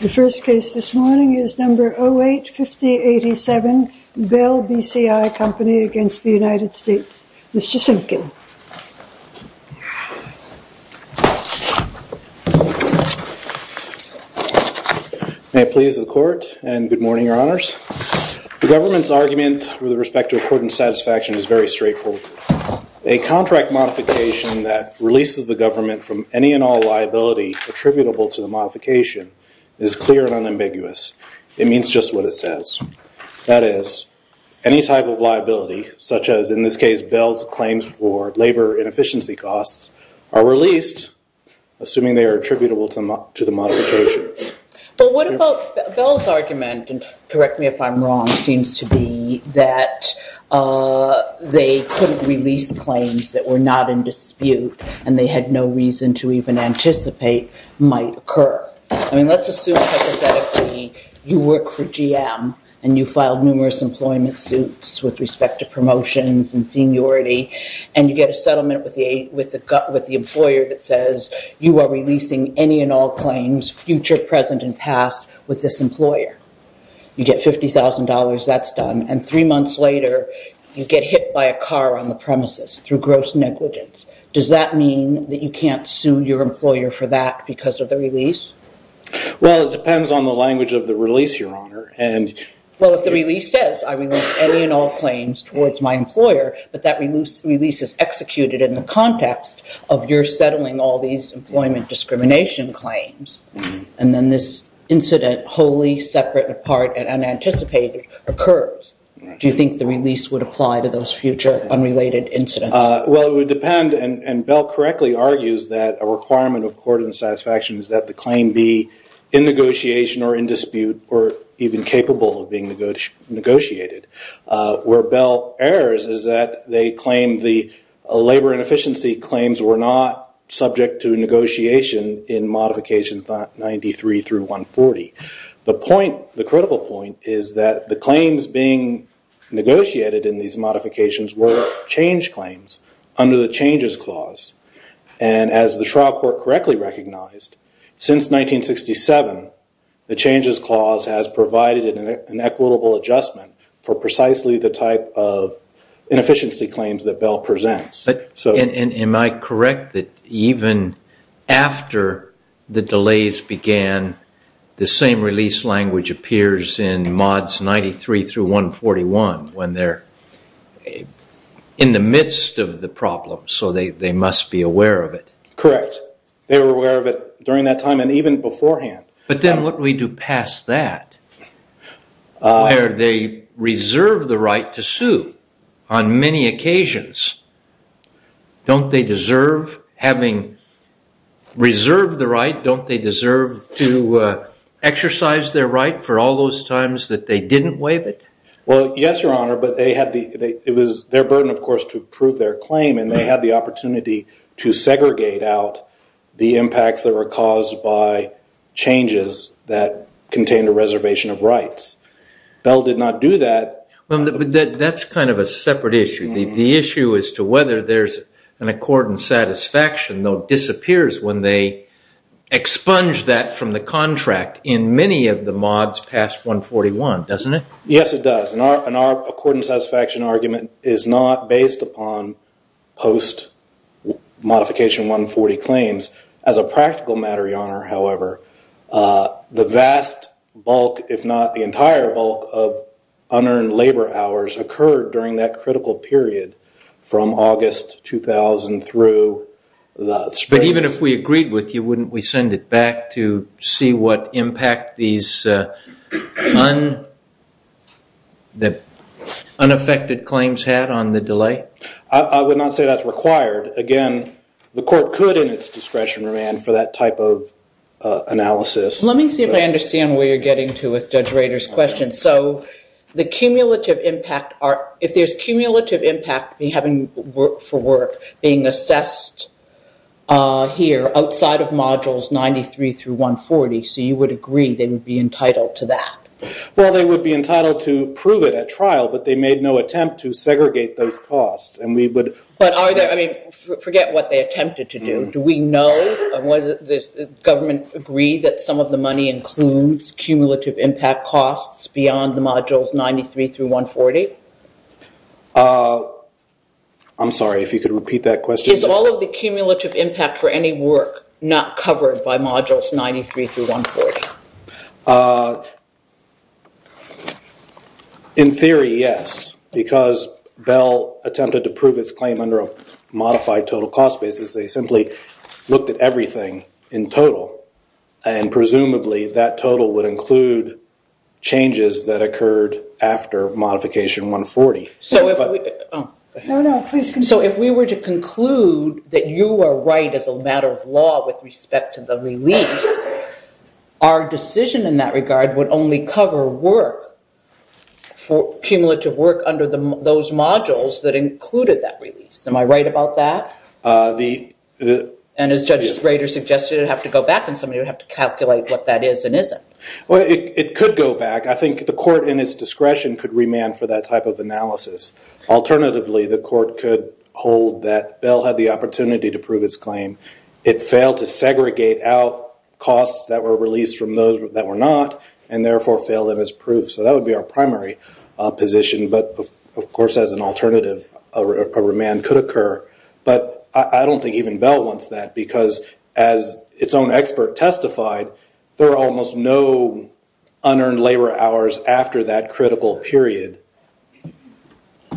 The first case this morning is number 08-5087, Bell BCI Company v. United States. Mr. Simpkin. May it please the Court, and good morning, Your Honors. The government's argument with respect to accordance satisfaction is very straightforward. A contract modification that releases the government from any and all liability attributable to the modification is clear and unambiguous. It means just what it says. That is, any type of liability, such as in this case Bell's claims for labor inefficiency costs, are released assuming they are attributable to the modifications. But what about Bell's argument, and correct me if I'm wrong, seems to be that they couldn't release claims that were not in dispute and they had no reason to even anticipate might occur. I mean, let's assume hypothetically you work for GM and you filed numerous employment suits with respect to promotions and seniority, and you get a settlement with the employer that says you are releasing any and all claims, future, present, and past, with this employer. You get $50,000, that's done, and three months later you get hit by a car on the premises through gross negligence. Does that mean that you can't sue your employer for that because of the release? Well, it depends on the language of the release, Your Honor. Well, if the release says I release any and all claims towards my employer, but that release is executed in the context of your settling all these employment discrimination claims, and then this incident wholly separate, apart, and unanticipated occurs, do you think the release would apply to those future unrelated incidents? Well, it would depend, and Bell correctly argues that a requirement of court of satisfaction is that the claim be in negotiation or in dispute or even capable of being negotiated. Where Bell errs is that they claim the labor inefficiency claims were not subject to negotiation in modifications 93 through 140. The point, the critical point is that the claims being negotiated in these modifications were change claims under the Changes Clause. And as the trial court correctly recognized, since 1967 the Changes Clause has provided an equitable adjustment for precisely the type of inefficiency claims that Bell presents. Am I correct that even after the delays began, the same release language appears in Mods 93 through 141 when they're in the midst of the problem, so they must be aware of it? Correct. They were aware of it during that time and even beforehand. But then what do we do past that, where they reserve the right to sue on many occasions? Don't they deserve having reserved the right? Don't they deserve to exercise their right for all those times that they didn't waive it? Well, yes, Your Honor, but it was their burden, of course, to prove their claim, and they had the opportunity to segregate out the impacts that were caused by changes that contained a reservation of rights. Bell did not do that. But that's kind of a separate issue. The issue is to whether there's an accord and satisfaction that disappears when they expunge that from the contract in many of the Mods past 141, doesn't it? Yes, it does. An accord and satisfaction argument is not based upon post-Modification 140 claims. As a practical matter, Your Honor, however, the vast bulk, if not the entire bulk, of unearned labor hours occurred during that critical period from August 2000 through... But even if we agreed with you, wouldn't we send it back to see what impact these unaffected claims had on the delay? I would not say that's required. Again, the court could, in its discretion, remand for that type of analysis. Let me see if I understand where you're getting to with Judge Rader's question. If there's cumulative impact for work being assessed here outside of Modules 93 through 140, so you would agree they would be entitled to that? Well, they would be entitled to prove it at trial, but they made no attempt to segregate those costs. Forget what they attempted to do. Do we know, does the government agree that some of the money includes cumulative impact costs beyond the Modules 93 through 140? I'm sorry, if you could repeat that question. Is all of the cumulative impact for any work not covered by Modules 93 through 140? In theory, yes, because Bell attempted to prove its claim under a modified total cost basis. They simply looked at everything in total, and presumably that total would include changes that occurred after Modification 140. No, no, please continue. So if we were to conclude that you are right as a matter of law with respect to the release, our decision in that regard would only cover work, cumulative work under those modules that included that release. Am I right about that? And as Judge Rader suggested, it would have to go back, and somebody would have to calculate what that is and isn't. Well, it could go back. I think the court in its discretion could remand for that type of analysis. Alternatively, the court could hold that Bell had the opportunity to prove his claim. It failed to segregate out costs that were released from those that were not, and therefore failed in its proof. So that would be our primary position, but of course as an alternative, a remand could occur. But I don't think even Bell wants that, because as its own expert testified, there are almost no unearned labor hours after that critical period.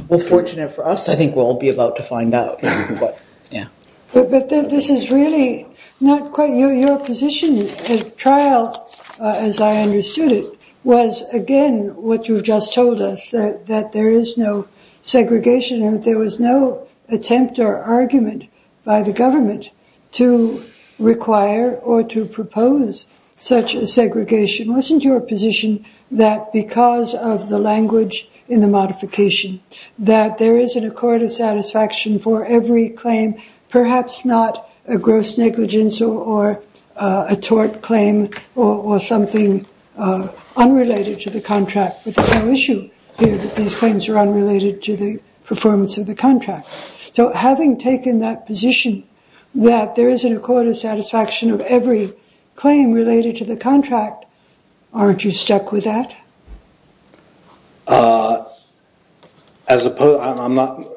Well, fortunate for us, I think we'll all be about to find out. But this is really not quite your position. The trial, as I understood it, was again what you've just told us, that there is no segregation, and there was no attempt or argument by the government to require or to propose such a segregation. Wasn't your position that because of the language in the modification, that there is an accord of satisfaction for every claim, perhaps not a gross negligence or a tort claim or something unrelated to the contract? But there's no issue here that these claims are unrelated to the performance of the contract. So having taken that position, that there is an accord of satisfaction of every claim related to the contract, aren't you stuck with that? I'm not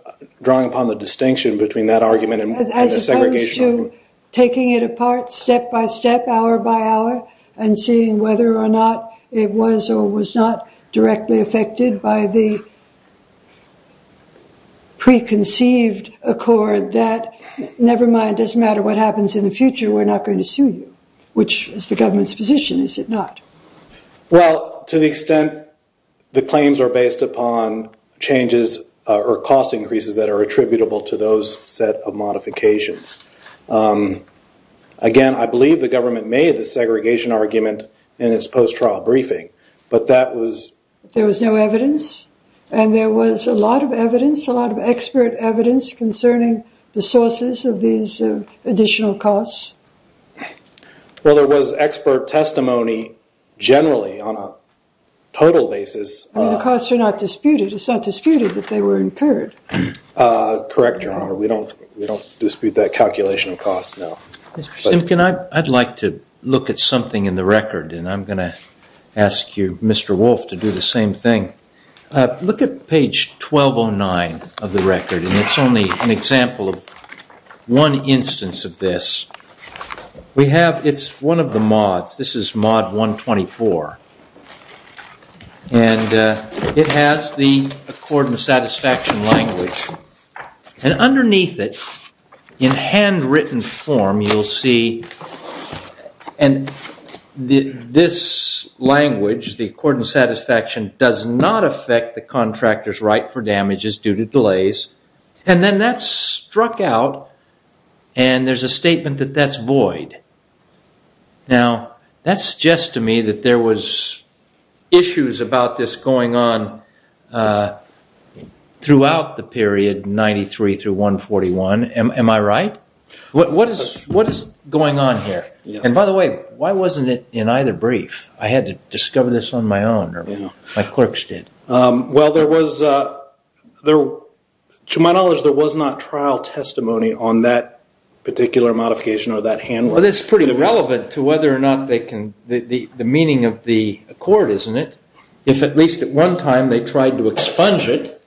drawing upon the distinction between that argument and the segregation argument. As opposed to taking it apart step by step, hour by hour, and seeing whether or not it was or was not directly affected by the preconceived accord that, never mind, it doesn't matter what happens in the future, we're not going to sue you. Which is the government's position, is it not? Well, to the extent the claims are based upon changes or cost increases that are attributable to those set of modifications. Again, I believe the government made the segregation argument in its post-trial briefing, but that was... There was no evidence, and there was a lot of evidence, a lot of expert evidence, concerning the sources of these additional costs. Well, there was expert testimony generally on a total basis. I mean, the costs are not disputed. It's not disputed that they were incurred. Correct, Your Honor. We don't dispute that calculation of costs, no. I'd like to look at something in the record, and I'm going to ask you, Mr. Wolf, to do the same thing. Look at page 1209 of the record, and it's only an example of one instance of this. We have... It's one of the mods. This is mod 124. And it has the Accord and Satisfaction language. And underneath it, in handwritten form, you'll see... And this language, the Accord and Satisfaction, does not affect the contractor's right for damages due to delays. And then that's struck out, and there's a statement that that's void. Now, that suggests to me that there was issues about this going on throughout the period 93 through 141. Am I right? What is going on here? And by the way, why wasn't it in either brief? I had to discover this on my own, or my clerks did. Well, there was... To my knowledge, there was not trial testimony on that particular modification or that handwriting. Well, that's pretty relevant to whether or not they can... The meaning of the Accord, isn't it? If at least at one time they tried to expunge it,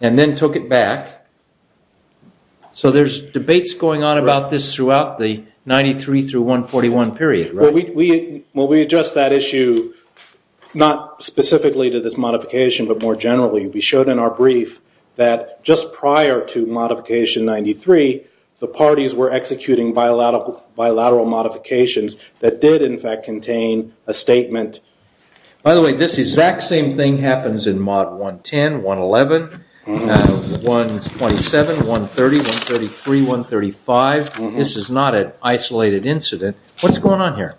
and then took it back. So there's debates going on about this throughout the 93 through 141 period, right? Well, we address that issue not specifically to this modification, but more generally. We showed in our brief that just prior to modification 93, the parties were executing bilateral modifications that did, in fact, contain a statement. By the way, this exact same thing happens in Mod 110, 111, 127, 130, 133, 135. This is not an isolated incident. What's going on here?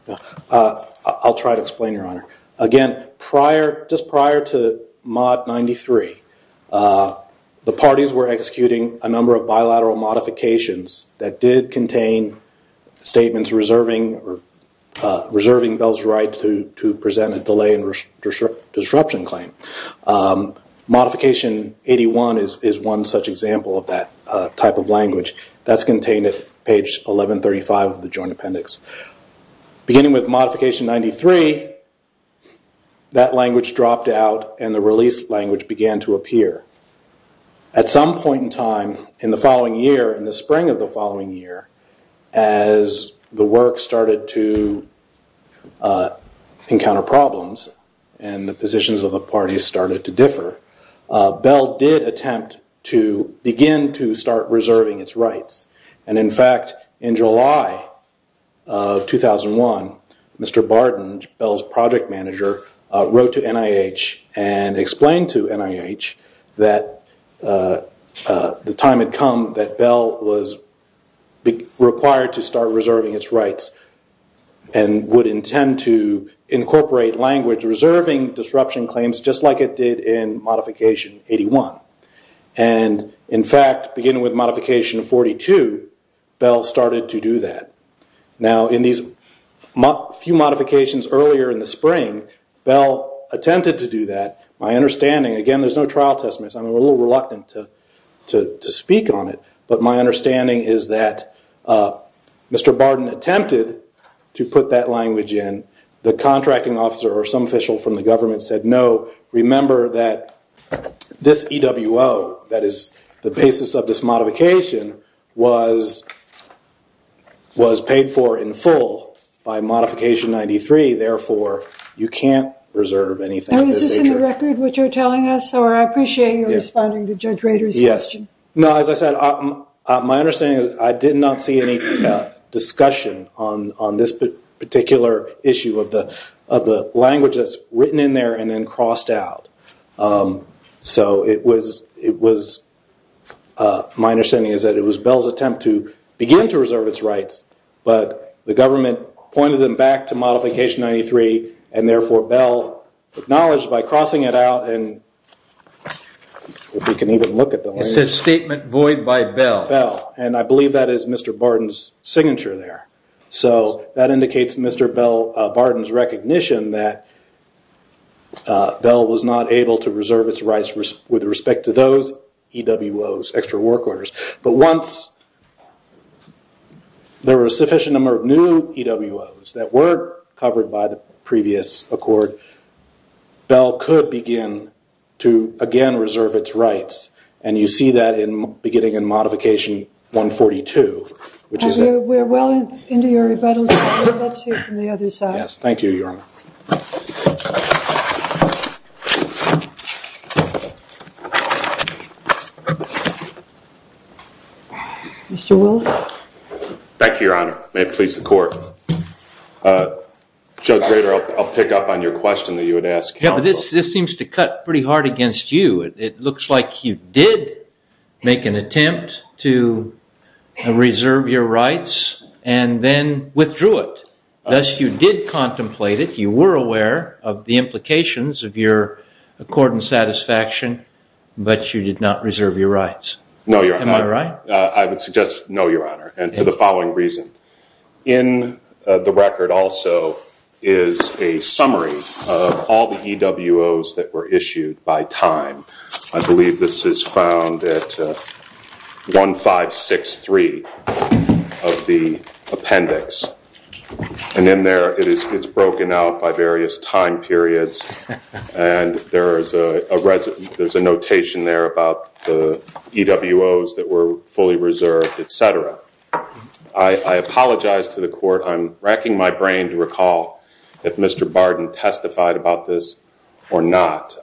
I'll try to explain, Your Honor. Again, just prior to Mod 93, the parties were executing a number of bilateral modifications that did contain statements reserving Bell's right to present a delay and disruption claim. Modification 81 is one such example of that type of language. That's contained at page 1135 of the Joint Appendix. Beginning with Modification 93, that language dropped out, and the release language began to appear. At some point in time in the following year, in the spring of the following year, as the work started to encounter problems and the positions of the parties started to differ, Bell did attempt to begin to start reserving its rights. In fact, in July of 2001, Mr. Barden, Bell's project manager, wrote to NIH and explained to NIH that the time had come that Bell was required to start reserving its rights and would intend to incorporate language reserving disruption claims just like it did in Modification 81. In fact, beginning with Modification 42, Bell started to do that. Now, in these few modifications earlier in the spring, Bell attempted to do that. My understanding, again there's no trial testaments, I'm a little reluctant to speak on it, but my understanding is that Mr. Barden attempted to put that language in. The contracting officer or some official from the government said, No, remember that this EWO, that is the basis of this modification, was paid for in full by Modification 93, therefore you can't reserve anything. Now, is this in the record what you're telling us, or I appreciate you responding to Judge Rader's question. No, as I said, my understanding is I did not see any discussion on this particular issue of the language that's written in there and then crossed out. So it was, my understanding is that it was Bell's attempt to begin to reserve its rights, but the government pointed them back to Modification 93, and therefore Bell acknowledged by crossing it out. It says statement void by Bell. Bell, and I believe that is Mr. Barden's signature there. So that indicates Mr. Bell, Barden's recognition that Bell was not able to reserve its rights with respect to those EWOs, extra work orders, but once there were a sufficient number of new EWOs that were covered by the previous accord, Bell could begin to again reserve its rights, and you see that beginning in Modification 142. We're well into your rebuttal, Judge Rader. Let's hear from the other side. Yes, thank you, Your Honor. Mr. Willett. Thank you, Your Honor. May it please the Court. Judge Rader, I'll pick up on your question that you had asked counsel. Yeah, but this seems to cut pretty hard against you. It looks like you did make an attempt to reserve your rights and then withdrew it. Thus, you did contemplate it. You were aware of the implications of your accord and satisfaction, but you did not reserve your rights. No, Your Honor. Am I right? I would suggest no, Your Honor, and for the following reason. In the record also is a summary of all the EWOs that were issued by time. I believe this is found at 1563 of the appendix, and in there it's broken out by various time periods, and there's a notation there about the EWOs that were fully reserved, et cetera. I apologize to the Court. I'm racking my brain to recall if Mr. Barden testified about this or not.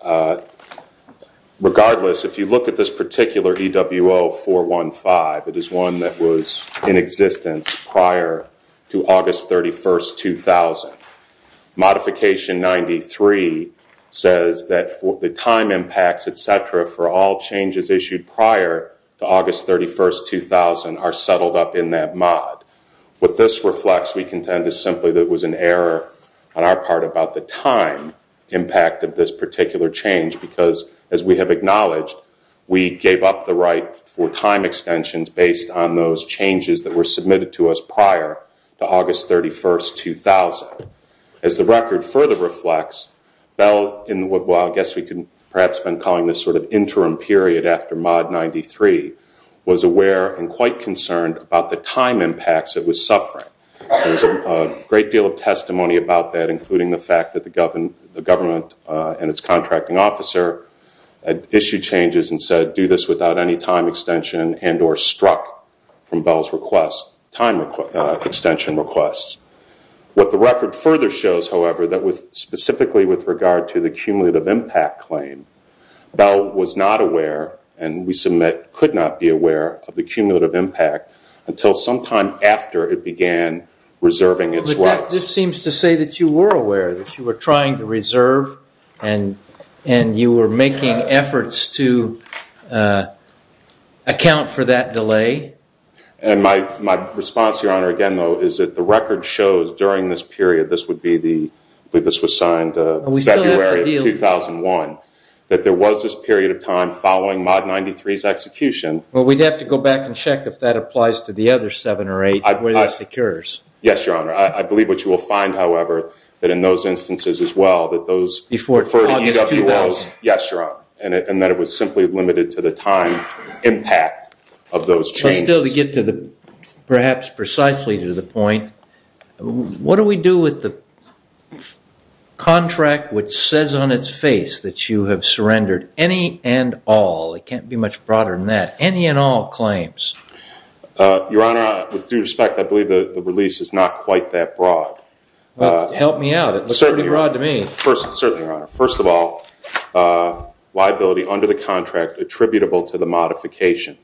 Regardless, if you look at this particular EWO 415, it is one that was in existence prior to August 31, 2000. Modification 93 says that the time impacts, et cetera, for all changes issued prior to August 31, 2000 are settled up in that mod. What this reflects, we contend, is simply that it was an error on our part about the time impact of this particular change because, as we have acknowledged, we gave up the right for time extensions based on those changes that were submitted to us prior to August 31, 2000. As the record further reflects, Bell, in what I guess we could perhaps have been calling this sort of interim period after Mod 93, was aware and quite concerned about the time impacts it was suffering. There's a great deal of testimony about that, including the fact that the government and its contracting officer issued changes and said do this without any time extension and or struck from Bell's time extension requests. What the record further shows, however, that specifically with regard to the cumulative impact claim, Bell was not aware and we submit could not be aware of the cumulative impact until sometime after it began reserving its rights. But that just seems to say that you were aware, that you were trying to reserve and you were making efforts to account for that delay. My response, Your Honor, again, though, is that the record shows during this period, this was signed in February of 2001, that there was this period of time following Mod 93's execution. Well, we'd have to go back and check if that applies to the other seven or eight where this occurs. Yes, Your Honor. I believe what you will find, however, that in those instances as well, that those Before August 2000. Yes, Your Honor, and that it was simply limited to the time impact of those changes. Perhaps precisely to the point, what do we do with the contract which says on its face that you have surrendered any and all, it can't be much broader than that, any and all claims? Your Honor, with due respect, I believe the release is not quite that broad. Help me out. It looks pretty broad to me. Certainly, Your Honor. First of all, liability under the contract attributable to the modification.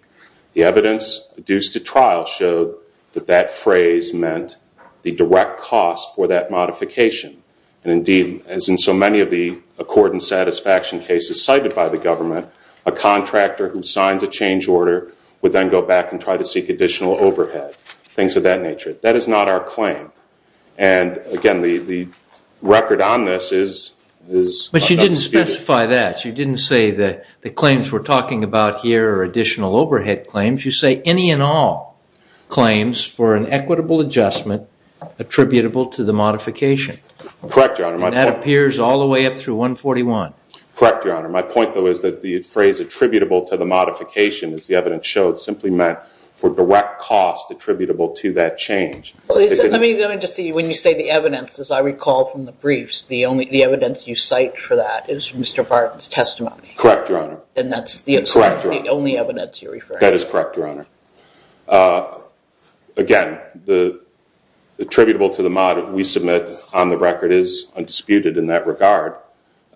The evidence due to trial showed that that phrase meant the direct cost for that modification. Indeed, as in so many of the accord and satisfaction cases cited by the government, a contractor who signs a change order would then go back and try to seek additional overhead, things of that nature. That is not our claim. Again, the record on this is But you didn't specify that. You didn't say that the claims we're talking about here are additional overhead claims. You say any and all claims for an equitable adjustment attributable to the modification. Correct, Your Honor. And that appears all the way up through 141. Correct, Your Honor. My point, though, is that the phrase attributable to the modification, as the evidence showed, simply meant for direct cost attributable to that change. Let me just see. When you say the evidence, as I recall from the briefs, the evidence you cite for that is Mr. Barton's testimony. Correct, Your Honor. And that's the only evidence you're referring to. That is correct, Your Honor. Again, the attributable to the mod we submit on the record is undisputed in that regard.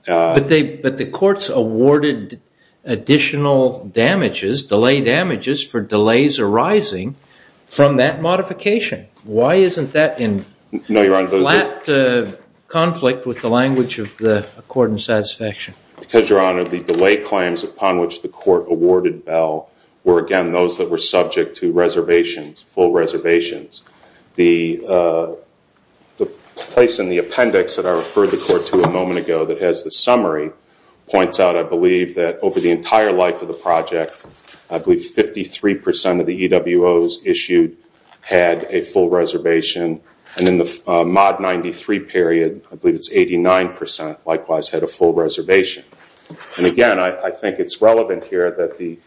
But the courts awarded additional damages, delay damages, for delays arising from that modification. Why isn't that in flat conflict with the language of the court in satisfaction? Because, Your Honor, the delay claims upon which the court awarded Bell were, again, those that were subject to reservations, full reservations. The place in the appendix that I referred the court to a moment ago that has the summary points out, I believe, that over the entire life of the project, I believe 53 percent of the EWOs issued had a full reservation. And in the mod 93 period, I believe it's 89 percent likewise had a full reservation. And, again, I think it's relevant here that the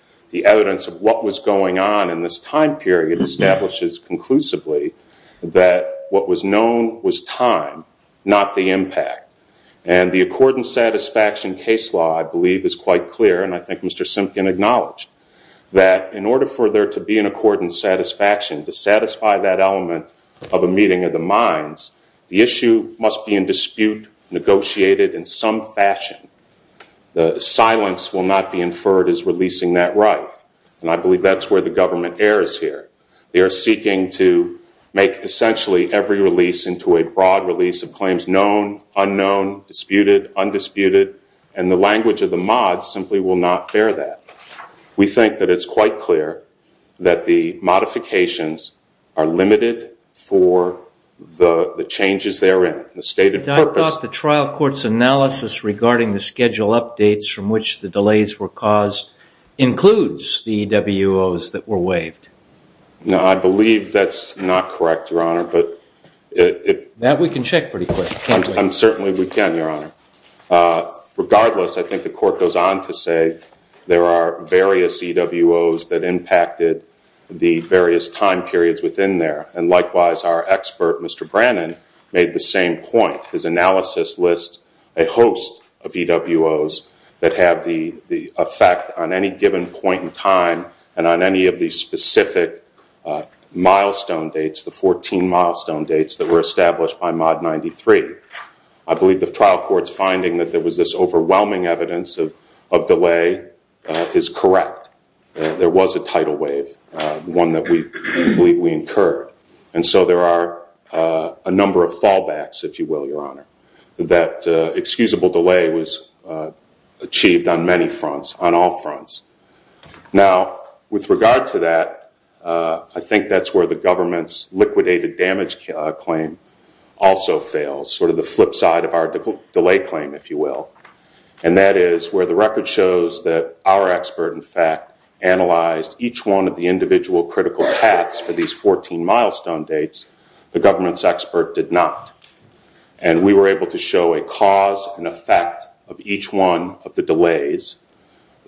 evidence of what was going on in this time period establishes conclusively that what was known was time, not the impact. And the accordance satisfaction case law, I believe, is quite clear. And I think Mr. Simpkin acknowledged that in order for there to be an accordance satisfaction, to satisfy that element of a meeting of the minds, the issue must be in dispute, negotiated in some fashion. The silence will not be inferred as releasing that right. And I believe that's where the government errs here. They are seeking to make essentially every release into a broad release of claims known, unknown, disputed, undisputed. And the language of the mod simply will not bear that. We think that it's quite clear that the modifications are limited for the changes therein, the stated purpose. I thought the trial court's analysis regarding the schedule updates from which the delays were caused includes the EWOs that were waived. No, I believe that's not correct, Your Honor. That we can check pretty quick. Certainly we can, Your Honor. Regardless, I think the court goes on to say there are various EWOs that impacted the various time periods within there. And likewise, our expert, Mr. Brannon, made the same point. His analysis lists a host of EWOs that have the effect on any given point in time and on any of the specific milestone dates, the 14 milestone dates that were established by Mod 93. I believe the trial court's finding that there was this overwhelming evidence of delay is correct. There was a tidal wave, one that we believe we incurred. And so there are a number of fallbacks, if you will, Your Honor, that excusable delay was achieved on many fronts, on all fronts. Now, with regard to that, I think that's where the government's liquidated damage claim also fails, sort of the flip side of our delay claim, if you will. And that is where the record shows that our expert, in fact, analyzed each one of the individual critical paths for these 14 milestone dates. The government's expert did not. And we were able to show a cause and effect of each one of the delays.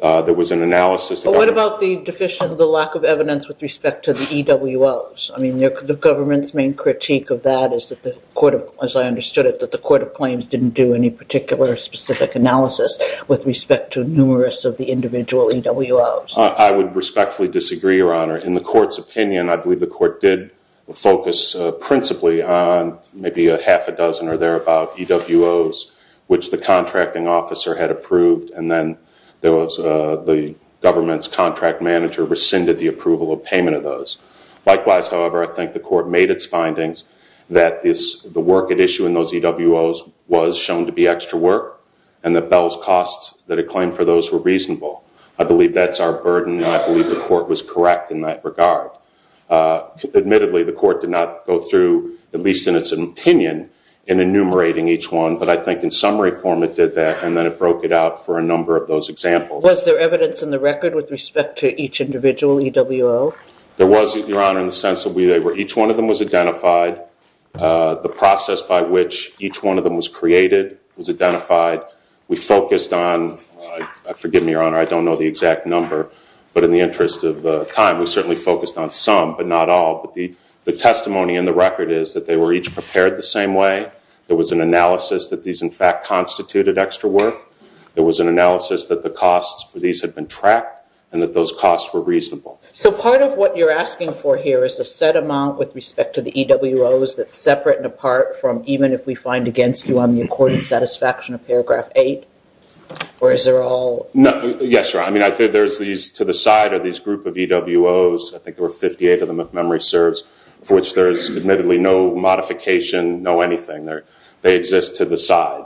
There was an analysis. What about the deficient, the lack of evidence with respect to the EWOs? I mean, the government's main critique of that is, as I understood it, that the court of claims didn't do any particular specific analysis with respect to numerous of the individual EWOs. I would respectfully disagree, Your Honor. In the court's opinion, I believe the court did focus principally on maybe a half a dozen or thereabout EWOs, which the contracting officer had approved. And then the government's contract manager rescinded the approval of payment of those. Likewise, however, I think the court made its findings that the work at issue in those EWOs was shown to be extra work, and that Bell's costs that it claimed for those were reasonable. I believe that's our burden, and I believe the court was correct in that regard. Admittedly, the court did not go through, at least in its opinion, in enumerating each one. But I think in summary form it did that, and then it broke it out for a number of those examples. Was there evidence in the record with respect to each individual EWO? There was, Your Honor, in the sense that each one of them was identified. The process by which each one of them was created was identified. We focused on, forgive me, Your Honor, I don't know the exact number, but in the interest of time, we certainly focused on some, but not all. But the testimony in the record is that they were each prepared the same way. There was an analysis that these, in fact, constituted extra work. There was an analysis that the costs for these had been tracked, and that those costs were reasonable. So part of what you're asking for here is a set amount with respect to the EWOs that's separate and apart from, even if we find against you on the accorded satisfaction of Paragraph 8? Or is there all... Yes, Your Honor. I mean, I think there's these, to the side, are these group of EWOs. I think there were 58 of them, if memory serves, for which there's admittedly no modification, no anything. They exist to the side.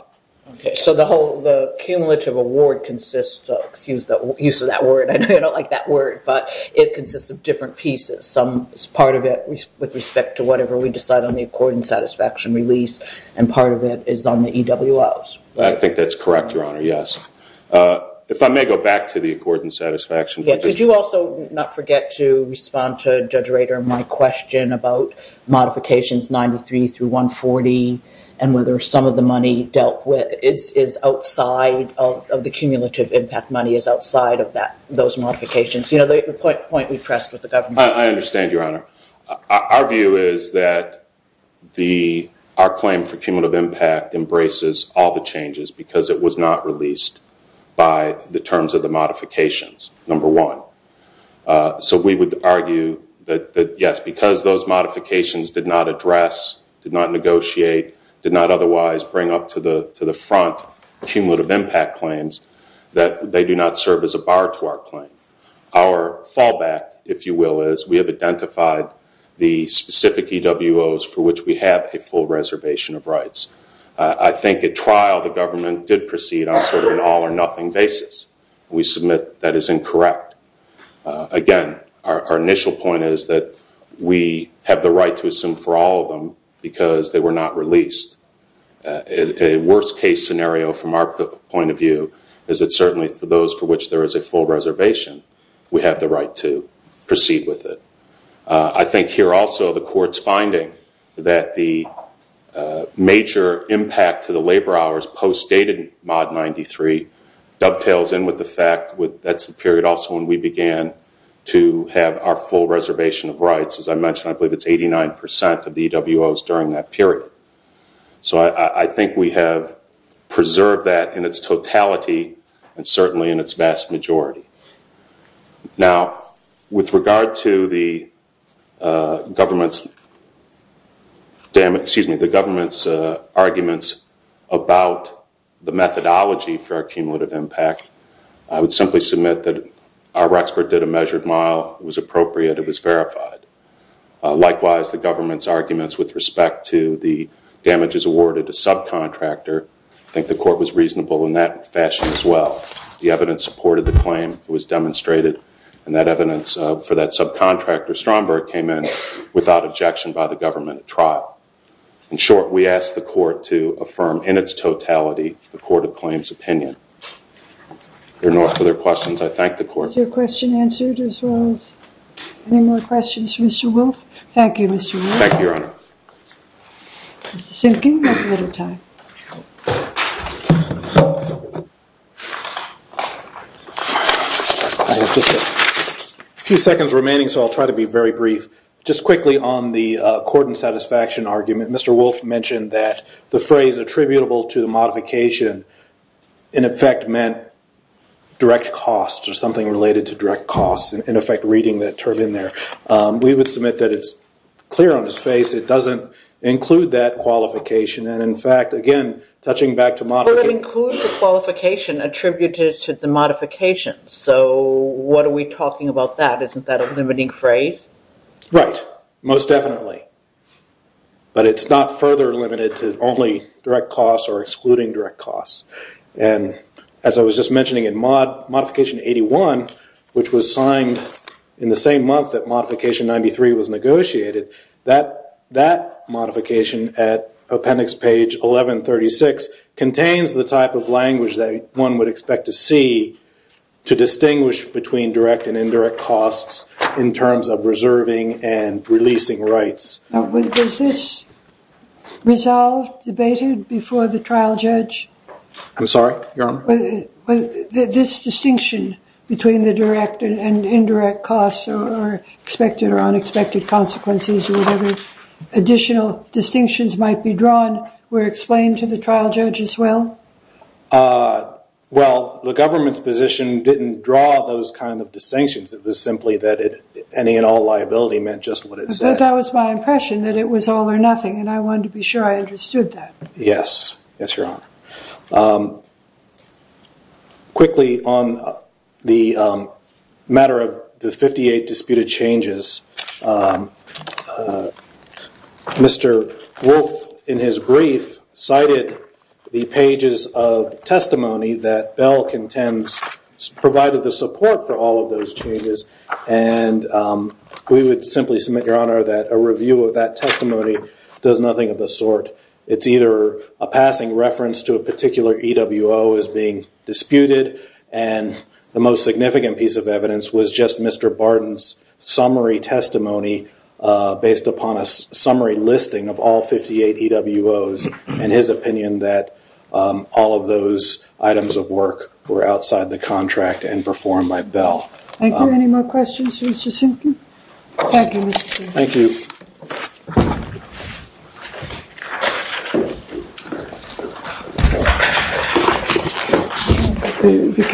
Okay. So the cumulative award consists of, excuse the use of that word. I don't like that word, but it consists of different pieces. Some is part of it with respect to whatever we decide on the accord and satisfaction release, and part of it is on the EWOs. I think that's correct, Your Honor, yes. If I may go back to the accord and satisfaction. Did you also not forget to respond to Judge Rader on my question about modifications 93 through 140 and whether some of the money dealt with is outside of the cumulative impact money, is outside of those modifications? You know, the point we pressed with the government. I understand, Your Honor. Our view is that our claim for cumulative impact embraces all the changes because it was not released by the terms of the modifications, number one. So we would argue that, yes, because those modifications did not address, did not negotiate, did not otherwise bring up to the front cumulative impact claims, that they do not serve as a bar to our claim. Our fallback, if you will, is we have identified the specific EWOs for which we have a full reservation of rights. I think at trial the government did proceed on sort of an all or nothing basis. We submit that is incorrect. Again, our initial point is that we have the right to assume for all of them because they were not released. A worst case scenario from our point of view is that certainly for those for which there is a full reservation, we have the right to proceed with it. I think here also the court's finding that the major impact to the labor hours post dated mod 93 dovetails in with the fact that's the period also when we began to have our full reservation of rights. As I mentioned, I believe it's 89% of the EWOs during that period. So I think we have preserved that in its totality and certainly in its vast majority. Now, with regard to the government's arguments about the methodology for our cumulative impact, I would simply submit that our expert did a measured mile. It was appropriate. It was verified. Likewise, the government's arguments with respect to the damages awarded to subcontractor, I think the court was reasonable in that fashion as well. The evidence supported the claim. It was demonstrated. And that evidence for that subcontractor Stromberg came in without objection by the government at trial. In short, we asked the court to affirm in its totality the court of claims opinion. If there are no further questions, I thank the court. Is your question answered as well as any more questions for Mr. Wolfe? Thank you, Mr. Wolfe. Thank you, Your Honor. I think we have a little time. A few seconds remaining, so I'll try to be very brief. Just quickly on the court and satisfaction argument, Mr. Wolfe mentioned that the phrase attributable to the modification in effect meant direct costs or something related to direct costs, in effect reading that term in there. We would submit that it's clear on his face. It doesn't include that qualification. And in fact, again, touching back to modification. But it includes the qualification attributed to the modification. So what are we talking about that? Isn't that a limiting phrase? Right, most definitely. But it's not further limited to only direct costs or excluding direct costs. And as I was just mentioning, in Modification 81, which was signed in the same month that Modification 93 was negotiated, that modification at Appendix Page 1136 contains the type of language that one would expect to see to distinguish between direct and indirect costs in terms of reserving and releasing rights. Was this resolved, debated before the trial judge? I'm sorry, Your Honor? This distinction between the direct and indirect costs or expected or unexpected consequences or whatever additional distinctions might be drawn were explained to the trial judge as well? Well, the government's position didn't draw those kind of distinctions. It was simply that any and all liability meant just what it said. But that was my impression, that it was all or nothing, and I wanted to be sure I understood that. Yes. Yes, Your Honor. Quickly, on the matter of the 58 disputed changes, Mr. Wolfe, in his brief, cited the pages of testimony that Bell contends provided the support for all of those changes, and we would simply submit, Your Honor, that a review of that testimony does nothing of the sort. It's either a passing reference to a particular EWO as being disputed, and the most significant piece of evidence was just Mr. Barton's summary testimony based upon a summary listing of all 58 EWOs and his opinion that all of those items of work were outside the contract and performed by Bell. Thank you. Any more questions for Mr. Simpkin? Thank you, Mr. Simpkin. Thank you. Thank you.